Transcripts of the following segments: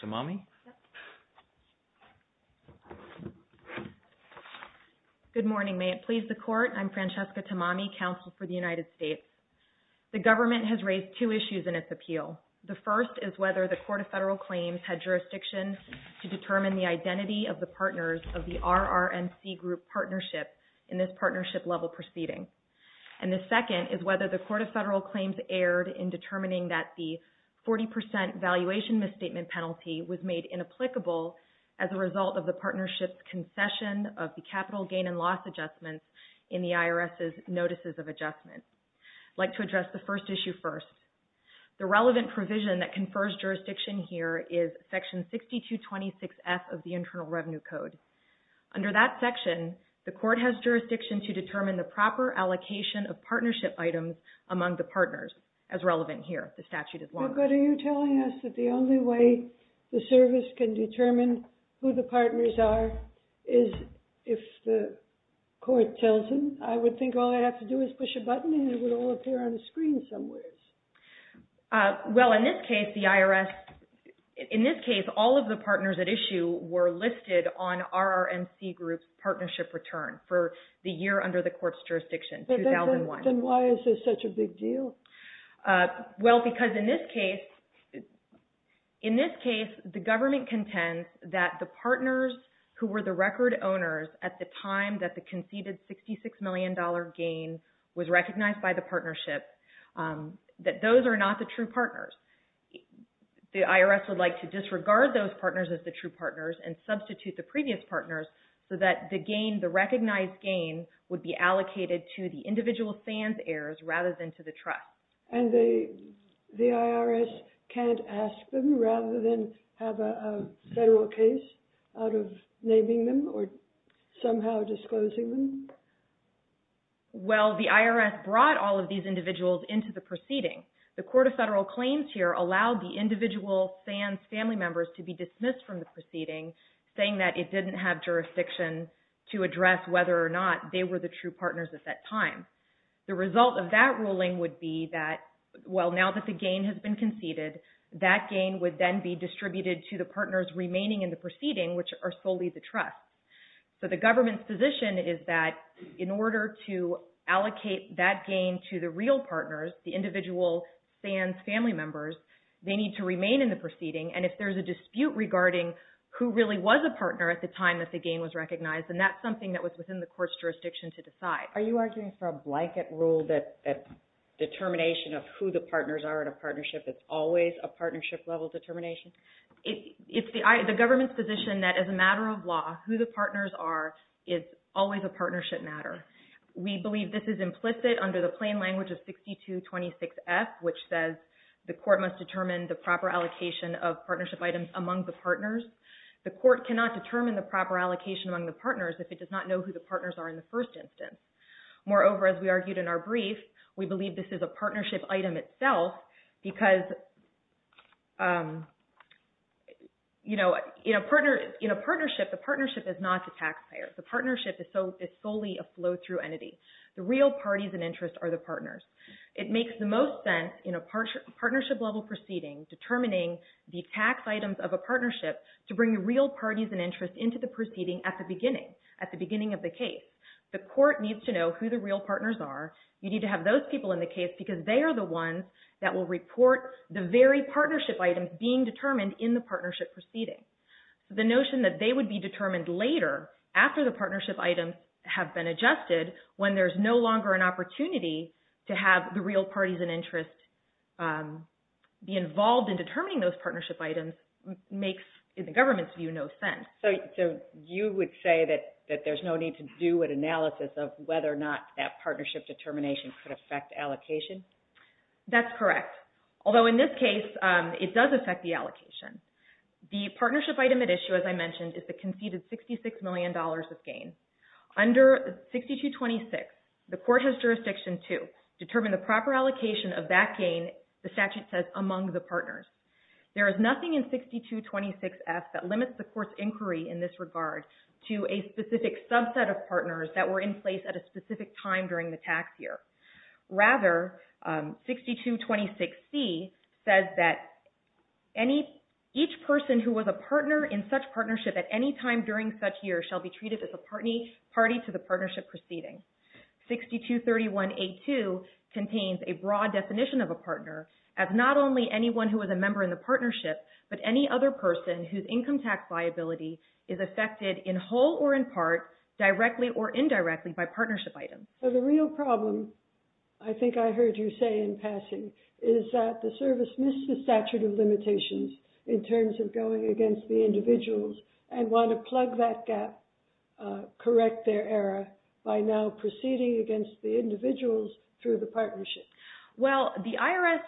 TAMAMI Good morning. May it please the Court, I'm Francesca Tamami, Counsel for the United States. The government has raised two issues in its appeal. The first is whether the Court of Federal Claims had jurisdiction to determine the identity of the partners of the RRNC group partnership in this partnership-level proceeding. And the second is whether the Court of Federal Claims' 40 percent valuation misstatement penalty was made inapplicable as a result of the partnership's concession of the capital gain and loss adjustments in the IRS's Notices of Adjustment. I'd like to address the first issue first. The relevant provision that confers jurisdiction here is Section 6226F of the Internal Revenue Code. Under that section, the Court has jurisdiction to determine the proper allocation of partnership items among the partners, as relevant here. The statute is longer. FRANCESCA TAMAMI But are you telling us that the only way the service can determine who the partners are is if the Court tells them? I would think all I'd have to do is push a button and it would all appear on the screen somewheres. TAMAMI Well, in this case, the IRS... In this case, all of the partners at issue were listed on RRNC group's partnership return for the year under the Court's jurisdiction, 2001. FRANCESCA TAMAMI Then why is this such a big deal? TAMAMI Well, because in this case, in this case, the government contends that the partners who were the record owners at the time that the conceded $66 million gain was recognized by the partnership, that those are not the true partners. The IRS would like to disregard those partners as the true partners and substitute the previous partners so that the gain, the SANS heirs, rather than to the trust. FRANCESCA TAMAMI And the IRS can't ask them rather than have a federal case out of naming them or somehow disclosing them? TAMAMI Well, the IRS brought all of these individuals into the proceeding. The Court of Federal Claims here allowed the individual SANS family members to be dismissed from the proceeding, saying that it didn't have jurisdiction to address whether or not they were the true partners. The result of that ruling would be that, well, now that the gain has been conceded, that gain would then be distributed to the partners remaining in the proceeding, which are solely the trust. So the government's position is that in order to allocate that gain to the real partners, the individual SANS family members, they need to remain in the proceeding. And if there's a dispute regarding who really was a partner at the time that the gain was recognized, then that's something that was within the Court's jurisdiction to decide. FRANCESCA TAMAMI Are you arguing for a blanket rule that determination of who the partners are in a partnership is always a partnership-level determination? TAMAMI It's the government's position that as a matter of law, who the partners are is always a partnership matter. We believe this is implicit under the plain language of 6226F, which says the court must determine the proper allocation of partnership items among the partners. The court cannot determine the proper allocation among the partners if it does not know who the partners are in the first instance. Moreover, as we argued in our brief, we believe this is a partnership item itself because, you know, in a partnership, the partnership is not the taxpayer. The partnership is solely a flow-through entity. The real parties and interests are the partners. It makes the most sense in a partnership-level proceeding determining the tax items of a partnership to bring the real parties and interests into the proceeding at the beginning, at the beginning of the case. The court needs to know who the real partners are. You need to have those people in the case because they are the ones that will report the very partnership items being determined in the partnership proceeding. The notion that they would be determined later, after the partnership items have been adjusted, when there's no longer an opportunity to have the real parties and interests be involved in determining those partnership items makes, in the government's view, no sense. So, you would say that there's no need to do an analysis of whether or not that partnership determination could affect allocation? That's correct. Although, in this case, it does affect the allocation. The partnership item at issue, as I mentioned, is the conceded $66 million of gain. Under 6226, the court has jurisdiction to determine the proper allocation of that gain, the statute says, among the in this regard, to a specific subset of partners that were in place at a specific time during the tax year. Rather, 6226C says that each person who was a partner in such partnership at any time during such year shall be treated as a party to the partnership proceeding. 6231A2 contains a broad definition of a partner as not only anyone who was a member in the partnership, is affected in whole or in part, directly or indirectly, by partnership items. So, the real problem, I think I heard you say in passing, is that the service missed the statute of limitations in terms of going against the individuals and want to plug that gap, correct their error, by now proceeding against the individuals through the partnership. Well, the IRS,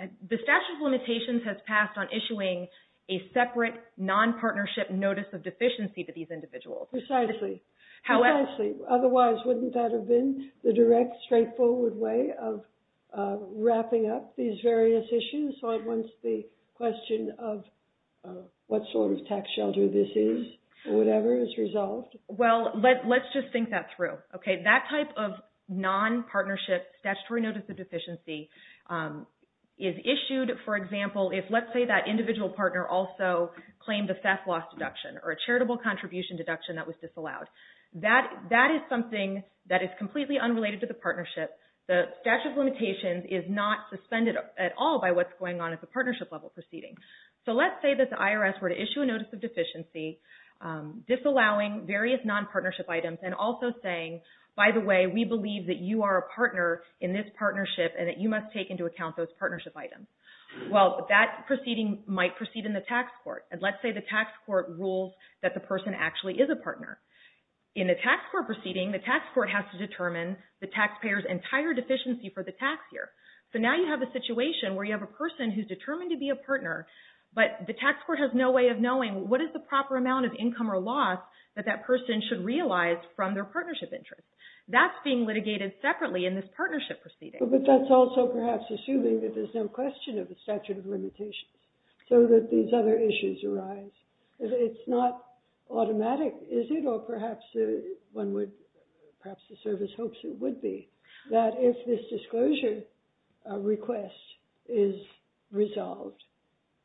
the statute of limitations has passed on issuing a separate nonpartnership statutory notice of deficiency to these individuals. Precisely. Otherwise, wouldn't that have been the direct, straightforward way of wrapping up these various issues? So, I want the question of what sort of tax shelter this is, or whatever, is resolved. Well, let's just think that through. That type of nonpartnership statutory notice of deficiency is issued, for example, if, let's say, that individual partner also claimed the theft loss deduction, or a charitable contribution deduction that was disallowed. That is something that is completely unrelated to the partnership. The statute of limitations is not suspended at all by what's going on at the partnership level proceeding. So, let's say that the IRS were to issue a notice of deficiency, disallowing various nonpartnership items, and also saying, by the way, we believe that you are a partner in this partnership and that you must take into account those partnership items. Well, that proceeding might proceed in the tax court. And let's say the tax court rules that the person actually is a partner. In a tax court proceeding, the tax court has to determine the taxpayer's entire deficiency for the tax year. So, now you have a situation where you have a person who is determined to be a partner, but the tax court has no way of knowing what is the proper amount of income or loss that that person should realize from their partnership interest. That's being litigated separately in this partnership proceeding. But that's also, perhaps, assuming that there's no question of the statute of limitations so that these other issues arise. It's not automatic, is it? Or perhaps one would, perhaps the service hopes it would be, that if this disclosure request is resolved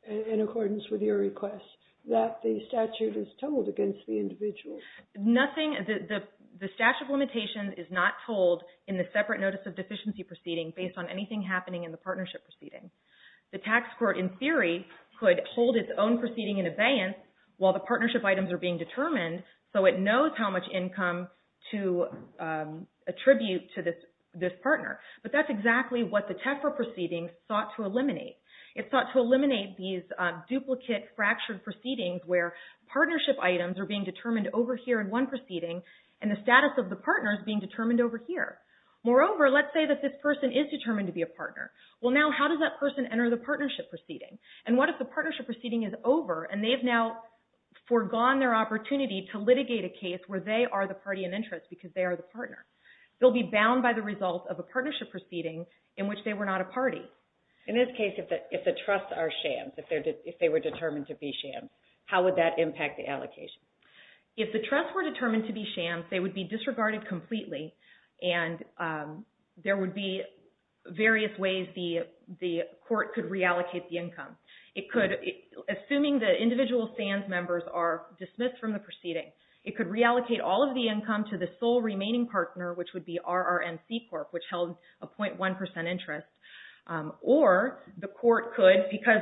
in accordance with your request, that the statute is told against the individual. The statute of limitations is not told in the separate notice of deficiency proceeding based on anything happening in the partnership proceeding. The tax court, in theory, could hold its own proceeding in abeyance while the partnership items are being determined so it knows how much income to attribute to this partner. But that's exactly what the TEFRA proceeding sought to eliminate. It sought to eliminate these duplicate fractured proceedings where partnership items are being determined over here in one proceeding and the status of the partner is being determined over here. Moreover, let's say that this person is determined to be a partner. Well, now how does that person enter the partnership proceeding? And what if the partnership proceeding is over and they've now forgone their opportunity to litigate a case where they are the party in interest because they are the partner? They'll be bound by the result of a partnership proceeding in which they were not a party. In this case, if the trusts are shams, if they were determined to be shams, how would that impact the allocation? If the trusts were determined to be shams, they would be disregarded completely and there would be various ways the court could reallocate the income. Assuming the individual SANS members are dismissed from the proceeding, it could reallocate all of the income to the sole remaining partner, which would be RRNC Corp., which held a 0.1 percent interest. Or the court could, because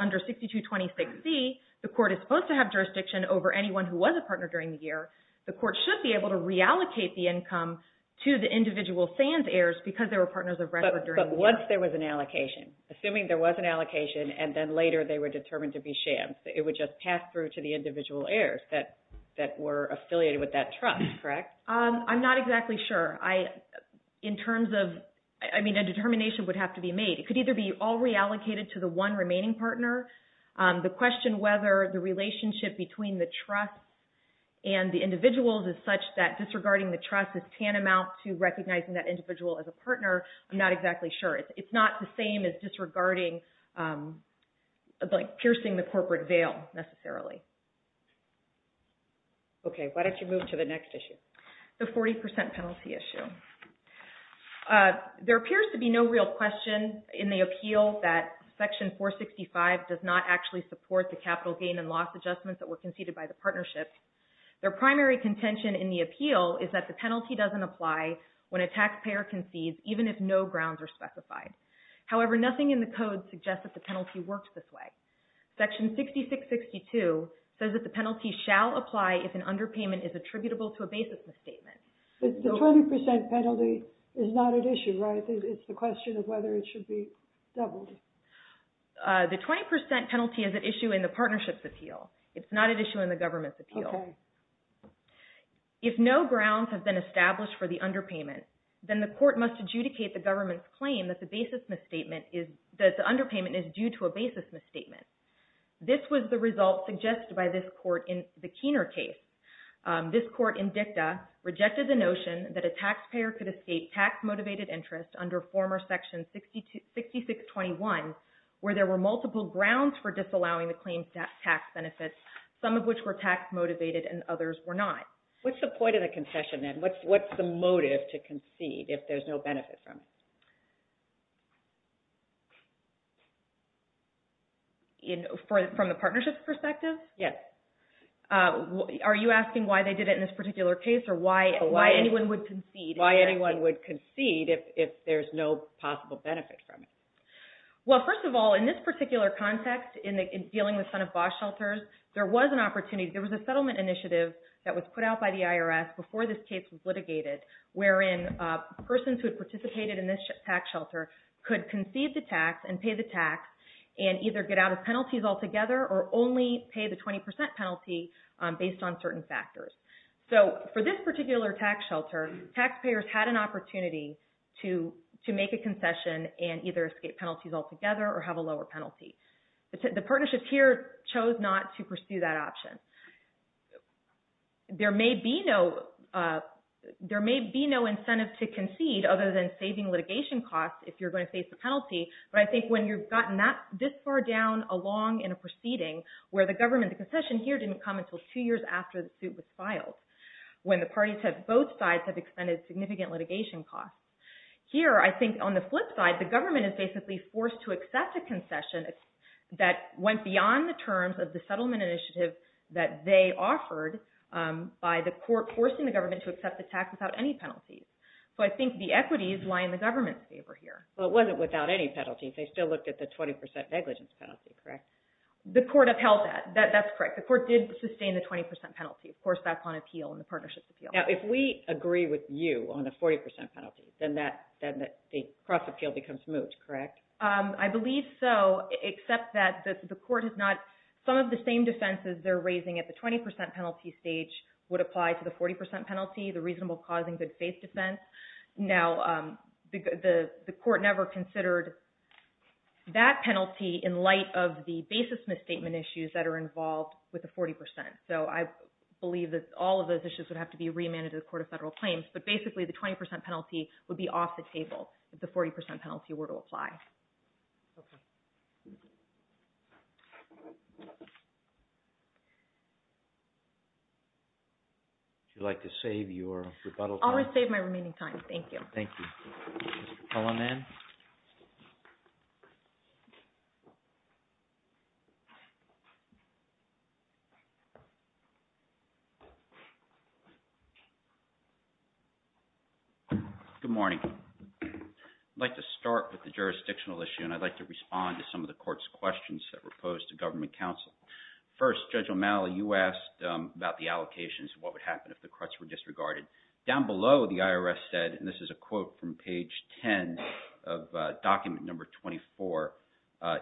under 6226C, the court is supposed to have jurisdiction over anyone who was a partner during the year, the court should be able to reallocate the income to the individual SANS heirs because they were partners of record during the year. But what if there was an allocation? Assuming there was an allocation and then later they were determined to be shams, it would just pass through to the individual heirs that were affiliated with that trust, correct? I'm not exactly sure. In terms of, I mean, a determination would have to be made. It could either be all reallocated to the one remaining partner. The question whether the relationship between the trust and the individuals is such that disregarding the trust is tantamount to recognizing that individual as a partner, I'm not exactly sure. It's not the same as disregarding, like piercing the corporate veil, necessarily. Okay. Why don't you move to the next issue? The 40 percent penalty issue. There appears to be no real question in the appeal that Section 465 does not actually support the capital gain and loss adjustments that were conceded by the partnership. Their primary contention in the appeal is that the penalty doesn't apply when a taxpayer concedes, even if no grounds are specified. However, nothing in the code suggests that the penalty works this way. Section 6662 says that the penalty shall apply if an underpayment is attributable to a basis misstatement. The 20 percent penalty is not at issue, right? It's the question of whether it should be doubled. The 20 percent penalty is at issue in the partnership's appeal. It's not at issue in the government's appeal. Okay. If no grounds have been established for the underpayment, then the court must adjudicate the government's claim that the basis misstatement is – that the underpayment is due to a basis misstatement. This was the result suggested by this court in the Keener case. This court in DICTA rejected the notion that a taxpayer could escape tax-motivated interest under former Section 6621, where there were multiple grounds for disallowing the claim's tax benefits, some of which were tax-motivated and others were not. What's the point of the concession, then? What's the motive to concede if there's no benefit from it? From the partnership's perspective? Yes. Are you asking why they did it in this particular case or why anyone would concede? Why anyone would concede if there's no possible benefit from it. Well, first of all, in this particular context, in dealing with front-of-box shelters, there was an opportunity – there was a settlement initiative that was put out by the IRS before this case was litigated wherein persons who had participated in this tax shelter could concede the tax and pay the tax and either get out of penalties altogether or only pay the 20 percent penalty based on certain factors. So for this particular tax shelter, taxpayers had an opportunity to make a concession and either escape penalties altogether or have a lower penalty. The partnership here chose not to pursue that option. There may be no incentive to concede other than saving litigation costs if you're going to face a penalty, but I think when you've gotten this far down along in a proceeding where the government – the concession here didn't come until two years after the suit was filed when the parties have – both sides have expended significant litigation costs. Here, I think on the flip side, the government is basically forced to accept a concession that went beyond the terms of the settlement initiative that they offered by the court forcing the government to accept the tax without any penalties. So I think the equities lie in the government's favor here. But it wasn't without any penalties. They still looked at the 20 percent negligence penalty, correct? The court upheld that. That's correct. The court did sustain the 20 percent penalty. Of course, that's on appeal in the partnership's appeal. Now, if we agree with you on the 40 percent penalty, then the cross-appeal becomes moot, correct? I believe so, except that the court has not – some of the same defenses they're raising at the 20 percent penalty stage would apply to the 40 percent penalty, the reasonable causing good faith defense. Now, the court never considered that penalty in light of the basis misstatement issues that are involved with the 40 percent. So I believe that all of those issues would have to be remanded to the Court of Federal Claims, but basically the 20 percent penalty would be off the table if the 40 percent penalty were to apply. Okay. Would you like to save your rebuttal time? I'll save my remaining time. Thank you. Thank you. Mr. Kellerman? Good morning. I'd like to start with the jurisdictional issue and I'd like to respond to some of the court's questions that were posed to government counsel. First, Judge O'Malley, you asked about the allocations and what would happen if the cruts were disregarded. Down below, the IRS said, and this is a quote from page 10 of document number 24,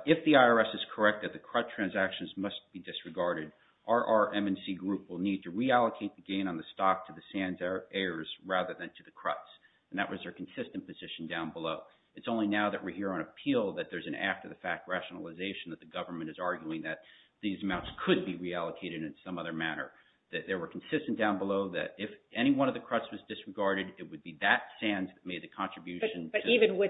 if the IRS is correct that the crut transactions must be disregarded, our RRM&C group will need to And that was their consistent position down below. It's only now that we're here on appeal that there's an after-the-fact rationalization that the government is arguing that these amounts could be reallocated in some other manner. That they were consistent down below that if any one of the cruts was disregarded, it would be that SANS that made the contribution. But even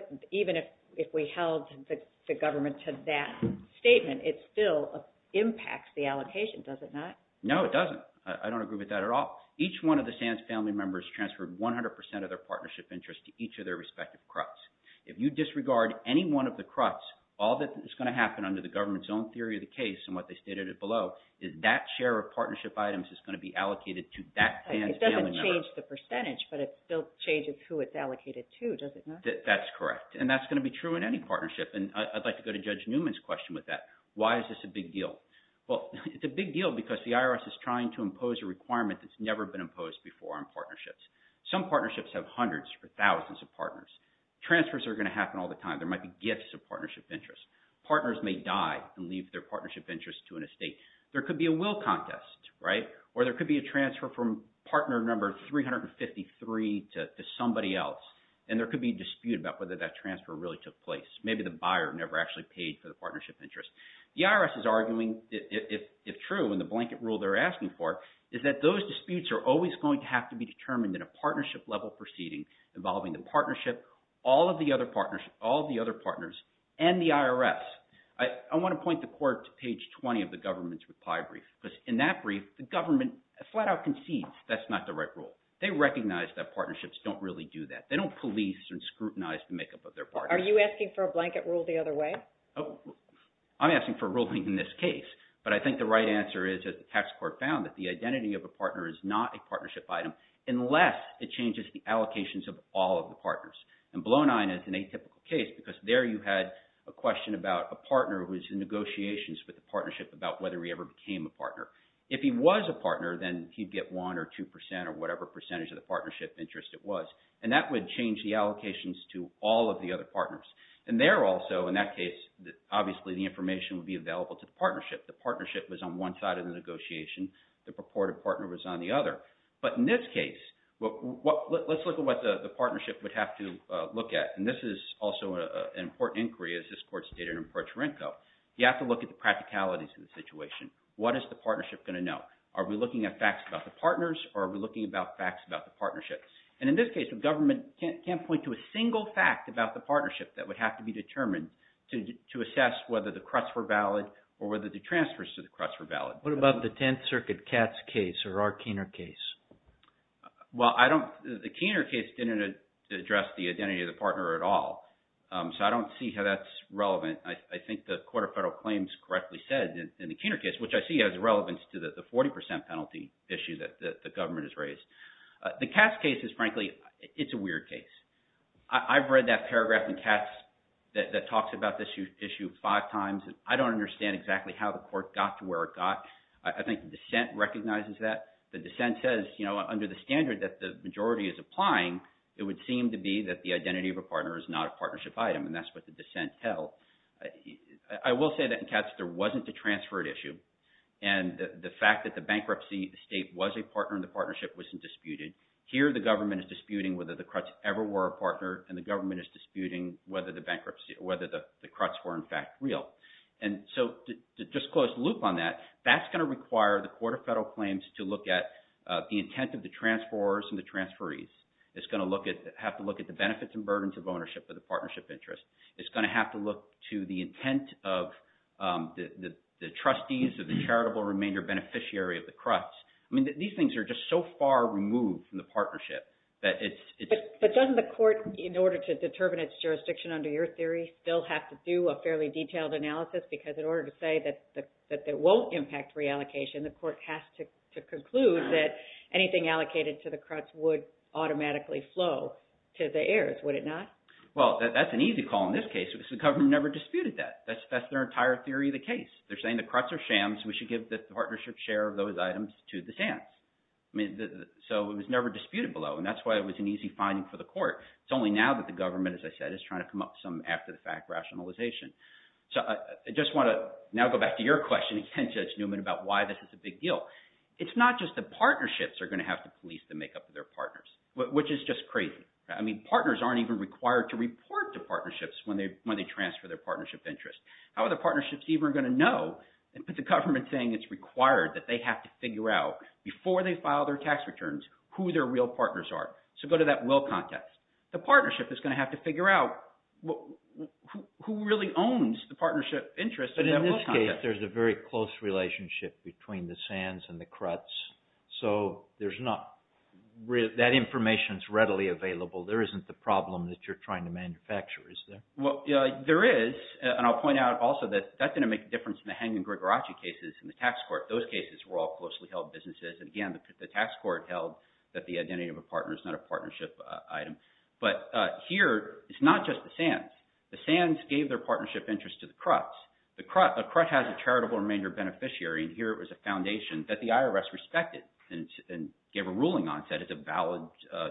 if we held the government to that statement, it still impacts the allocation, does it not? No, it doesn't. I don't agree with that at all. Each one of the SANS family members transferred 100% of their partnership interest to each of their respective cruts. If you disregard any one of the cruts, all that is going to happen under the government's own theory of the case, and what they stated below, is that share of partnership items is going to be allocated to that SANS family member. It doesn't change the percentage, but it still changes who it's allocated to, does it not? That's correct. And that's going to be true in any partnership. And I'd like to go to Judge Newman's question with that. Why is this a big deal? Well, it's a big deal because the IRS is trying to Some partnerships have hundreds or thousands of partners. Transfers are going to happen all the time. There might be gifts of partnership interest. Partners may die and leave their partnership interest to an estate. There could be a will contest, right? Or there could be a transfer from partner number 353 to somebody else, and there could be a dispute about whether that transfer really took place. Maybe the buyer never actually paid for the partnership interest. The IRS is arguing, if true, and the blanket rule they're asking for, is that those disputes are always going to have to be determined in a partnership-level proceeding involving the partnership, all of the other partners, and the IRS. I want to point the court to page 20 of the government's reply brief, because in that brief, the government flat-out concedes that's not the right rule. They recognize that partnerships don't really do that. They don't police and scrutinize the makeup of their partners. Are you asking for a blanket rule the other way? I'm asking for a ruling in this case, but I think the right answer is, as the tax court found, that the identity of a partner is not a partnership item unless it changes the allocations of all of the partners. And blow-nine is an atypical case, because there you had a question about a partner who's in negotiations with the partnership about whether he ever became a partner. If he was a partner, then he'd get 1% or 2% or whatever percentage of the partnership interest it was, and that would change the allocations to all of the other partners. And there also, in that case, obviously the information would be available to the partnership. The partnership was on one side of the negotiation. The purported partner was on the other. But in this case, let's look at what the partnership would have to look at, and this is also an important inquiry, as this court stated in ProTorenco. You have to look at the practicalities of the situation. What is the partnership going to know? Are we looking at facts about the partners, or are we looking at facts about the partnership? And in this case, the government can't point to a single fact about the partnership that would have to be determined to assess whether the cuts were valid or whether the transfers to the cuts were valid. What about the Tenth Circuit Katz case or our Keener case? Well, the Keener case didn't address the identity of the partner at all, so I don't see how that's relevant. I think the Court of Federal Claims correctly said in the Keener case, which I see as relevant to the 40% penalty issue that the government has raised. The Katz case is, frankly, it's a weird case. I've read that paragraph in Katz that talks about this issue five times, and I don't understand exactly how the court got to where it got. I think the dissent recognizes that. The dissent says, you know, under the standard that the majority is applying, it would seem to be that the identity of a partner is not a partnership item, and that's what the dissent held. I will say that in Katz there wasn't a transferred issue, and the fact that the bankruptcy estate was a partner in the partnership wasn't disputed. Here the government is disputing whether the Kratz ever were a partner, and the government is disputing whether the bankruptcy or whether the Kratz were in fact real. And so to just close the loop on that, that's going to require the Court of Federal Claims to look at the intent of the transfers and the transferees. It's going to have to look at the benefits and burdens of ownership of the partnership interest. It's going to have to look to the intent of the trustees or the charitable remainder beneficiary of the Kratz. I mean, these things are just so far removed from the partnership that it's— But doesn't the court, in order to determine its jurisdiction under your theory, still have to do a fairly detailed analysis? Because in order to say that it won't impact reallocation, the court has to conclude that anything allocated to the Kratz would automatically flow to the heirs, would it not? Well, that's an easy call in this case. The government never disputed that. That's their entire theory of the case. They're saying the Kratz are shams. We should give the partnership share of those items to the shams. I mean, so it was never disputed below, and that's why it was an easy finding for the court. It's only now that the government, as I said, is trying to come up with some after-the-fact rationalization. So I just want to now go back to your question again, Judge Newman, about why this is a big deal. It's not just the partnerships are going to have to police the makeup of their partners, which is just crazy. I mean, partners aren't even required to report to partnerships when they transfer their partnership interest. How are the partnerships even going to know? But the government is saying it's required that they have to figure out before they file their tax returns who their real partners are. So go to that will context. The partnership is going to have to figure out who really owns the partnership interest in that will context. But in this case, there's a very close relationship between the shams and the Kratz, so there's not – that information is readily available. There isn't the problem that you're trying to manufacture, is there? Well, there is, and I'll point out also that that's going to make a difference in the Hangen-Grigoracci cases in the tax court. Those cases were all closely held businesses, and again, the tax court held that the identity of a partner is not a partnership item. But here, it's not just the shams. The shams gave their partnership interest to the Kratz. The Kratz has a charitable remainder beneficiary, and here it was a foundation that the IRS respected and gave a ruling on. It said it's a valid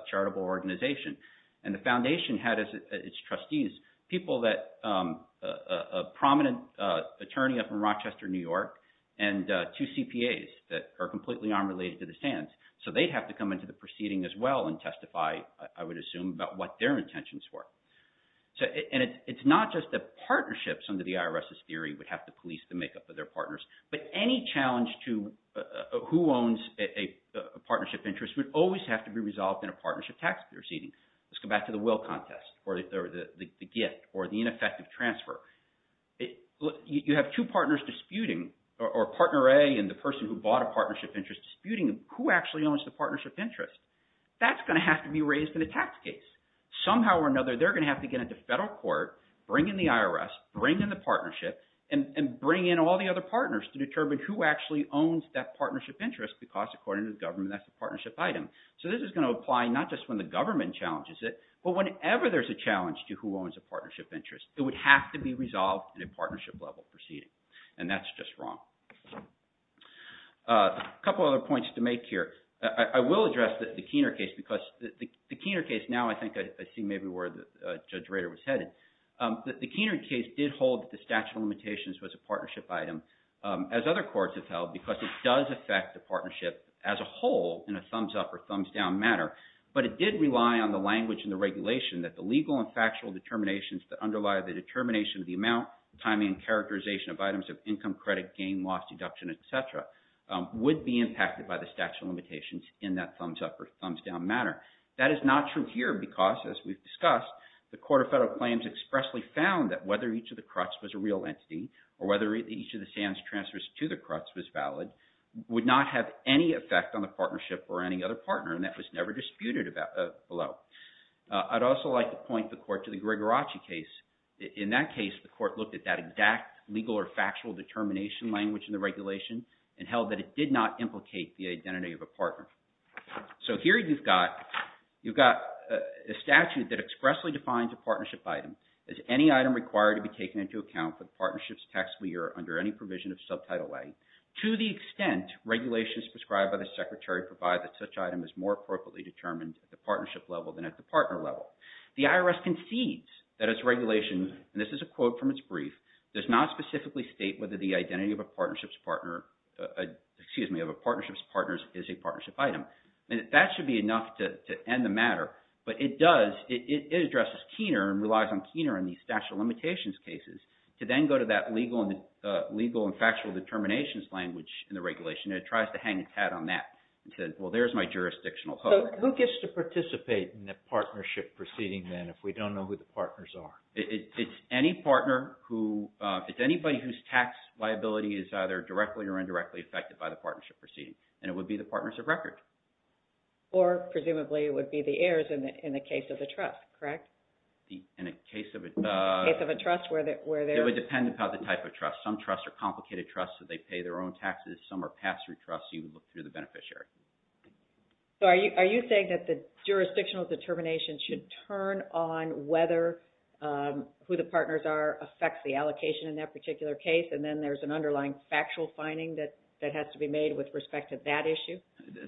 charitable organization. And the foundation had its trustees, people that – a prominent attorney up in Rochester, New York, and two CPAs that are completely unrelated to the shams. So they'd have to come into the proceeding as well and testify, I would assume, about what their intentions were. And it's not just the partnerships under the IRS's theory would have to police the makeup of their partners. But any challenge to who owns a partnership interest would always have to be resolved in a partnership tax proceeding. Let's go back to the will contest or the gift or the ineffective transfer. You have two partners disputing, or partner A and the person who bought a partnership interest disputing who actually owns the partnership interest. That's going to have to be raised in a tax case. Somehow or another, they're going to have to get into federal court, bring in the IRS, bring in the partnership, and bring in all the other partners to determine who actually owns that partnership interest because, according to the government, that's a partnership item. So this is going to apply not just when the government challenges it, but whenever there's a challenge to who owns a partnership interest. It would have to be resolved in a partnership-level proceeding, and that's just wrong. A couple other points to make here. I will address the Keener case because the Keener case – now I think I see maybe where Judge Rader was headed. The Keener case did hold that the statute of limitations was a partnership item, as other courts have held, because it does affect the partnership as a whole in a thumbs-up or thumbs-down manner. But it did rely on the language in the regulation that the legal and factual determinations that underlie the determination of the amount, timing, and characterization of items of income, credit, gain, loss, deduction, etc. would be impacted by the statute of limitations in that thumbs-up or thumbs-down manner. That is not true here because, as we've discussed, the Court of Federal Claims expressly found that whether each of the CRUTS was a real entity or whether each of the SAMs transfers to the CRUTS was valid would not have any effect on the partnership or any other partner, and that was never disputed below. I'd also like to point the Court to the Gregoracci case. In that case, the Court looked at that exact legal or factual determination language in the regulation and held that it did not implicate the identity of a partner. So here you've got a statute that expressly defines a partnership item as any item required to be taken into account for the partnership's tax levy or under any provision of Subtitle A to the extent regulations prescribed by the Secretary provide that such item is more appropriately determined at the partnership level than at the partner level. The IRS concedes that its regulation, and this is a quote from its brief, does not specifically state whether the identity of a partnership's partners is a partnership item. That should be enough to end the matter, but it does. It addresses Keener and relies on Keener in these statute of limitations cases to then go to that legal and factual determinations language in the regulation. It tries to hang its hat on that and says, well, there's my jurisdictional hook. So who gets to participate in the partnership proceeding then if we don't know who the partners are? It's any partner who – it's anybody whose tax liability is either directly or indirectly affected by the partnership proceeding, and it would be the partners of record. Or presumably it would be the heirs in the case of a trust, correct? In a case of a – In a case of a trust where there's – It would depend upon the type of trust. Some trusts are complicated trusts, so they pay their own taxes. Some are pass-through trusts, so you would look through the beneficiary. So are you saying that the jurisdictional determination should turn on whether who the partners are affects the allocation in that particular case, and then there's an underlying factual finding that has to be made with respect to that issue?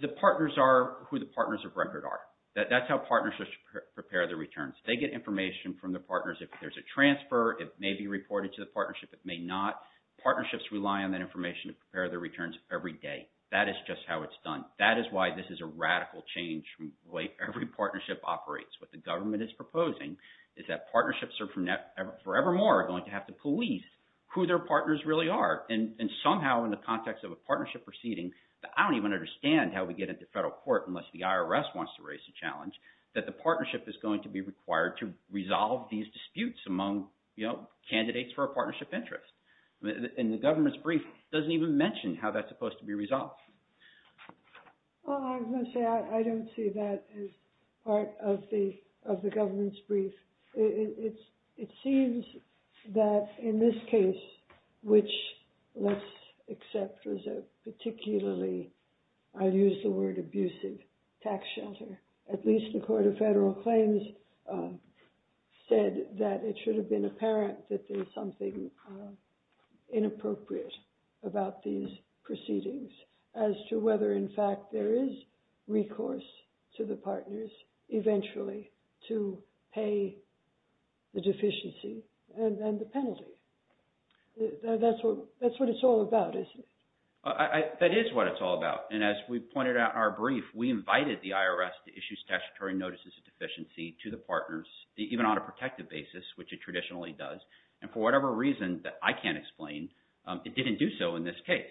The partners are who the partners of record are. That's how partnerships prepare the returns. They get information from the partners if there's a transfer. It may be reported to the partnership. It may not. Partnerships rely on that information to prepare their returns every day. That is just how it's done. That is why this is a radical change from the way every partnership operates. What the government is proposing is that partnerships are forevermore going to have to police who their partners really are. And somehow in the context of a partnership proceeding, I don't even understand how we get into federal court unless the IRS wants to raise a challenge, that the partnership is going to be required to resolve these disputes among candidates for a partnership interest. And the government's brief doesn't even mention how that's supposed to be resolved. Well, I was going to say I don't see that as part of the government's brief. It seems that in this case, which let's accept was a particularly, I'll use the word abusive, tax shelter. At least the Court of Federal Claims said that it should have been apparent that there's something inappropriate about these proceedings as to whether, in fact, there is recourse to the partners eventually to pay the deficiency and the penalty. That's what it's all about, isn't it? That is what it's all about. And as we pointed out in our brief, we invited the IRS to issue statutory notices of deficiency to the partners, even on a protective basis, which it traditionally does. And for whatever reason that I can't explain, it didn't do so in this case.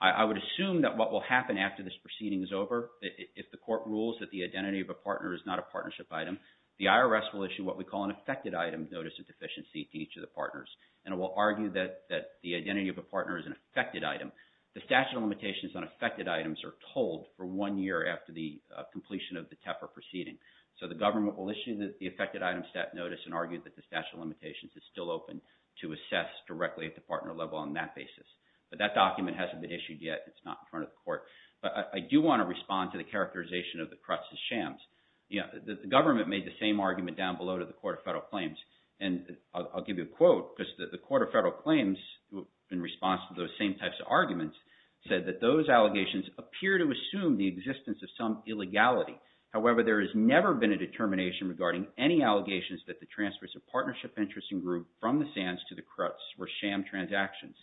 I would assume that what will happen after this proceeding is over, if the court rules that the identity of a partner is not a partnership item, the IRS will issue what we call an affected item notice of deficiency to each of the partners. And it will argue that the identity of a partner is an affected item. The statute of limitations on affected items are told for one year after the completion of the TEFR proceeding. So the government will issue the affected item status notice and argue that the statute of limitations is still open to assess directly at the partner level on that basis. But that document hasn't been issued yet. It's not in front of the court. But I do want to respond to the characterization of the crux of the shams. The government made the same argument down below to the Court of Federal Claims. And I'll give you a quote because the Court of Federal Claims, in response to those same types of arguments, said that those allegations appear to assume the existence of some illegality. However, there has never been a determination regarding any allegations that the transfers of partnership interest in group from the Sands to the Cruts were sham transactions.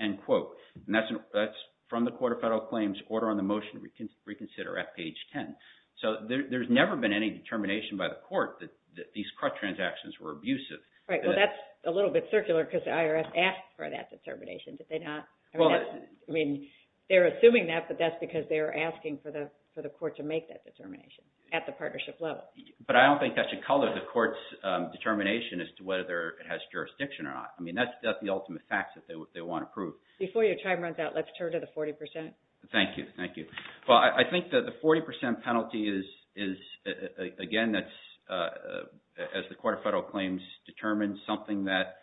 End quote. And that's from the Court of Federal Claims Order on the Motion to Reconsider at page 10. So there's never been any determination by the court that these Cruts transactions were abusive. Right. Well, that's a little bit circular because the IRS asked for that determination. Did they not? I mean, they're assuming that, but that's because they're asking for the court to make that determination at the partnership level. But I don't think that should color the court's determination as to whether it has jurisdiction or not. I mean, that's the ultimate fact that they want to prove. Before your time runs out, let's turn to the 40 percent. Thank you. Thank you. Well, I think that the 40 percent penalty is, again, as the Court of Federal Claims determined, something that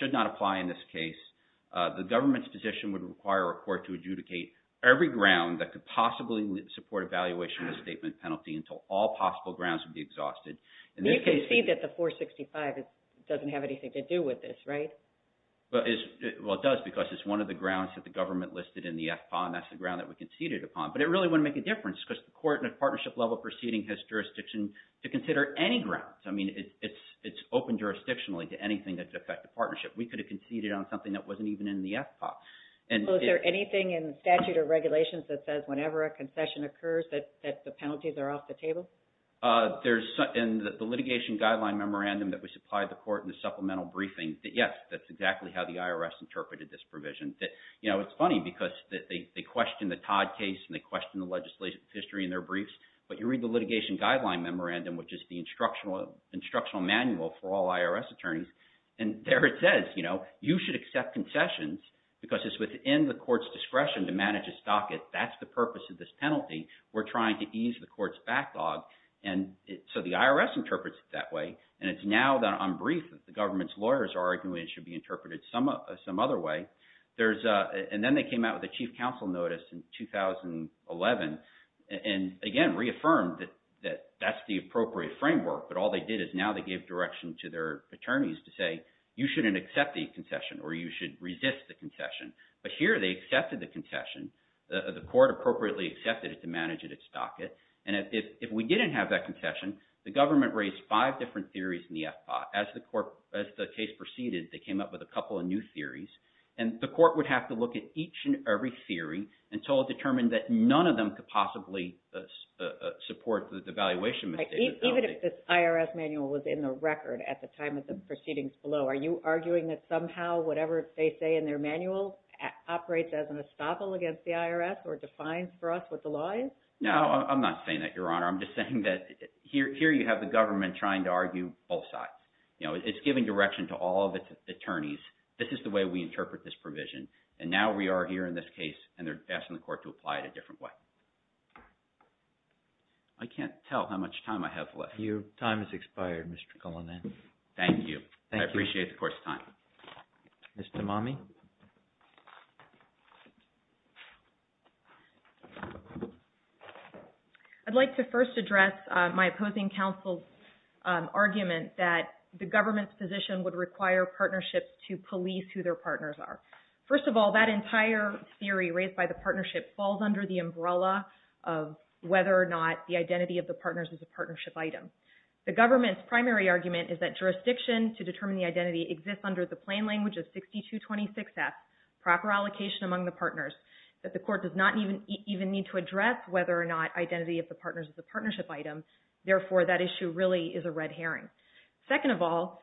should not apply in this case. The government's position would require a court to adjudicate every ground that could possibly support evaluation of the statement penalty until all possible grounds would be exhausted. You can see that the 465 doesn't have anything to do with this, right? Well, it does because it's one of the grounds that the government listed in the FPAW, and that's the ground that we conceded upon. But it really wouldn't make a difference because the court in a partnership level proceeding has jurisdiction to consider any grounds. I mean, it's open jurisdictionally to anything that could affect the partnership. We could have conceded on something that wasn't even in the FPAW. Well, is there anything in statute or regulations that says whenever a concession occurs that the penalties are off the table? There's – in the litigation guideline memorandum that we supplied the court in the supplemental briefing, yes, that's exactly how the IRS interpreted this provision. It's funny because they question the Todd case, and they question the legislative history in their briefs. But you read the litigation guideline memorandum, which is the instructional manual for all IRS attorneys, and there it says you should accept concessions because it's within the court's discretion to manage a stocket. We're trying to ease the court's backlog, and so the IRS interprets it that way. And it's now that I'm brief that the government's lawyers are arguing it should be interpreted some other way. There's – and then they came out with a chief counsel notice in 2011 and, again, reaffirmed that that's the appropriate framework. But all they did is now they gave direction to their attorneys to say you shouldn't accept the concession or you should resist the concession. But here they accepted the concession. The court appropriately accepted it to manage it at stocket. And if we didn't have that concession, the government raised five different theories in the FPA. As the court – as the case proceeded, they came up with a couple of new theories. And the court would have to look at each and every theory until it determined that none of them could possibly support the devaluation. Even if this IRS manual was in the record at the time of the proceedings below, are you arguing that somehow whatever they say in their manual operates as an estoppel against the IRS or defines for us what the law is? No, I'm not saying that, Your Honor. I'm just saying that here you have the government trying to argue both sides. It's giving direction to all of its attorneys. This is the way we interpret this provision. And now we are here in this case, and they're asking the court to apply it a different way. I can't tell how much time I have left. Your time has expired, Mr. Cullinan. Thank you. I appreciate the court's time. Ms. Tamami? I'd like to first address my opposing counsel's argument that the government's position would require partnerships to police who their partners are. First of all, that entire theory raised by the partnership falls under the umbrella of whether or not the identity of the partners is a partnership item. The government's primary argument is that jurisdiction to determine the identity exists under the plain language of 6226F, proper allocation among the partners, that the court does not even need to address whether or not identity of the partners is a partnership item. Therefore, that issue really is a red herring. Second of all,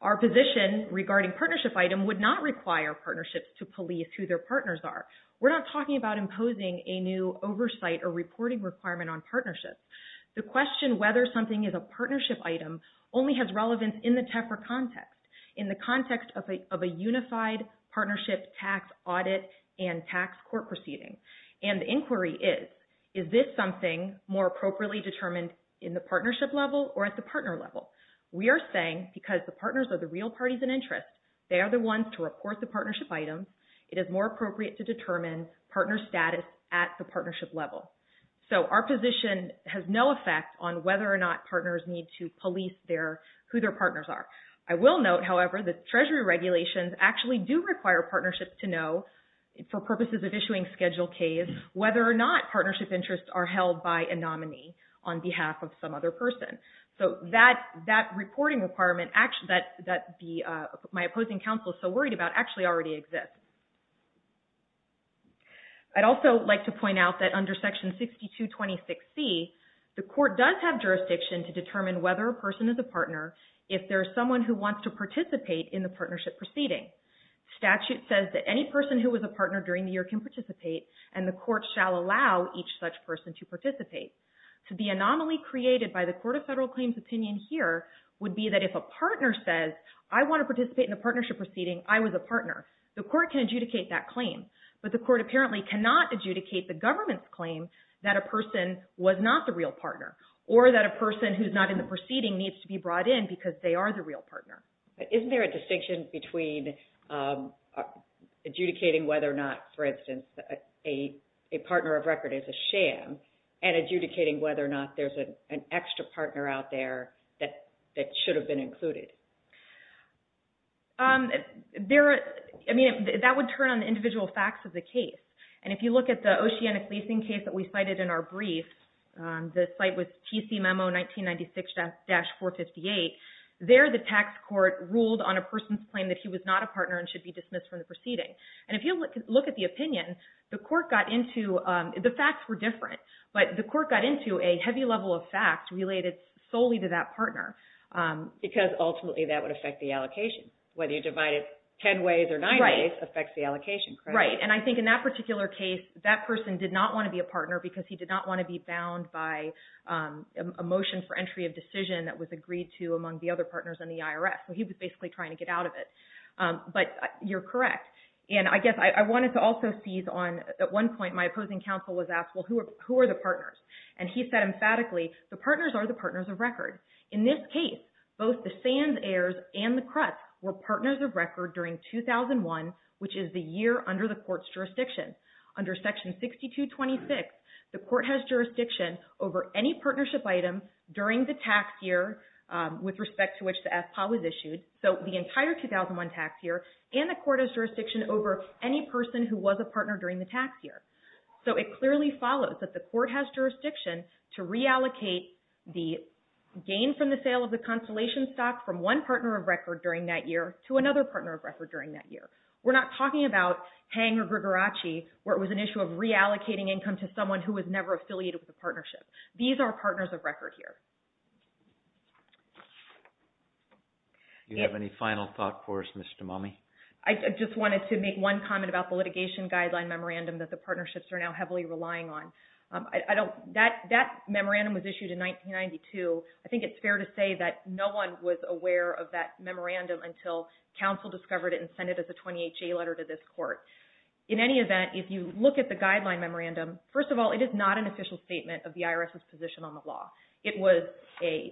our position regarding partnership item would not require partnerships to police who their partners are. We're not talking about imposing a new oversight or reporting requirement on partnerships. The question whether something is a partnership item only has relevance in the TEFRA context, in the context of a unified partnership tax audit and tax court proceeding. And the inquiry is, is this something more appropriately determined in the partnership level or at the partner level? We are saying because the partners are the real parties in interest, they are the ones to report the partnership items, it is more appropriate to determine partner status at the partnership level. So our position has no effect on whether or not partners need to police who their partners are. I will note, however, that treasury regulations actually do require partnerships to know, for purposes of issuing schedule Ks, whether or not partnership interests are held by a nominee on behalf of some other person. So that reporting requirement that my opposing counsel is so worried about actually already exists. I'd also like to point out that under section 6226C, the court does have jurisdiction to determine whether a person is a partner if there is someone who wants to participate in the partnership proceeding. Statute says that any person who was a partner during the year can participate, and the court shall allow each such person to participate. So the anomaly created by the Court of Federal Claims' opinion here would be that if a partner says, I want to participate in the partnership proceeding, I was a partner, the court can adjudicate that claim. But the court apparently cannot adjudicate the government's claim that a person was not the real partner, or that a person who is not in the proceeding needs to be brought in because they are the real partner. Isn't there a distinction between adjudicating whether or not, for instance, a partner of record is a sham, and adjudicating whether or not there's an extra partner out there that should have been included? That would turn on the individual facts of the case. And if you look at the Oceanic Leasing case that we cited in our brief, the site was TC Memo 1996-458, there the tax court ruled on a person's claim that he was not a partner and should be dismissed from the proceeding. And if you look at the opinion, the facts were different, but the court got into a heavy level of facts related solely to that partner. Because ultimately that would affect the allocation. Whether you divide it 10 ways or 9 ways affects the allocation, correct? That's right. And I think in that particular case, that person did not want to be a partner because he did not want to be bound by a motion for entry of decision that was agreed to among the other partners in the IRS. So he was basically trying to get out of it. But you're correct. And I guess I wanted to also seize on, at one point my opposing counsel was asked, well, who are the partners? And he said emphatically, the partners are the partners of record. In this case, both the SANS heirs and the Cruts were partners of record during 2001, which is the year under the court's jurisdiction. Under Section 6226, the court has jurisdiction over any partnership item during the tax year with respect to which the AFPA was issued, so the entire 2001 tax year, and the court has jurisdiction over any person who was a partner during the tax year. So it clearly follows that the court has jurisdiction to reallocate the gain from the sale of the consolation stock from one partner of record during that year to another partner of record during that year. We're not talking about Hanger-Grigoracci, where it was an issue of reallocating income to someone who was never affiliated with the partnership. These are partners of record here. Do you have any final thought for us, Ms. Damomi? I just wanted to make one comment about the litigation guideline memorandum that the partnerships are now heavily relying on. That memorandum was issued in 1992. I think it's fair to say that no one was aware of that memorandum until counsel discovered it and sent it as a 28-J letter to this court. In any event, if you look at the guideline memorandum, first of all, it is not an official statement of the IRS's position on the law. It was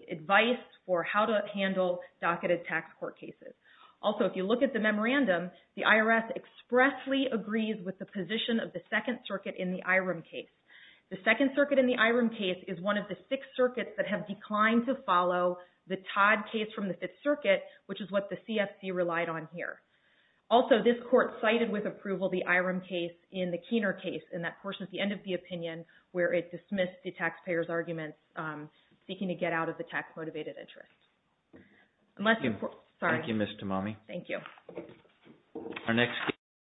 advice for how to handle docketed tax court cases. Also, if you look at the memorandum, the IRS expressly agrees with the position of the Second Circuit in the Iram case. The Second Circuit in the Iram case is one of the six circuits that have declined to follow the Todd case from the Fifth Circuit, which is what the CFC relied on here. Also, this court cited with approval the Iram case in the Keener case, and that portion is the end of the opinion where it dismissed the taxpayer's arguments seeking to get out of the tax-motivated interest. Thank you, Ms. Tamami. Thank you.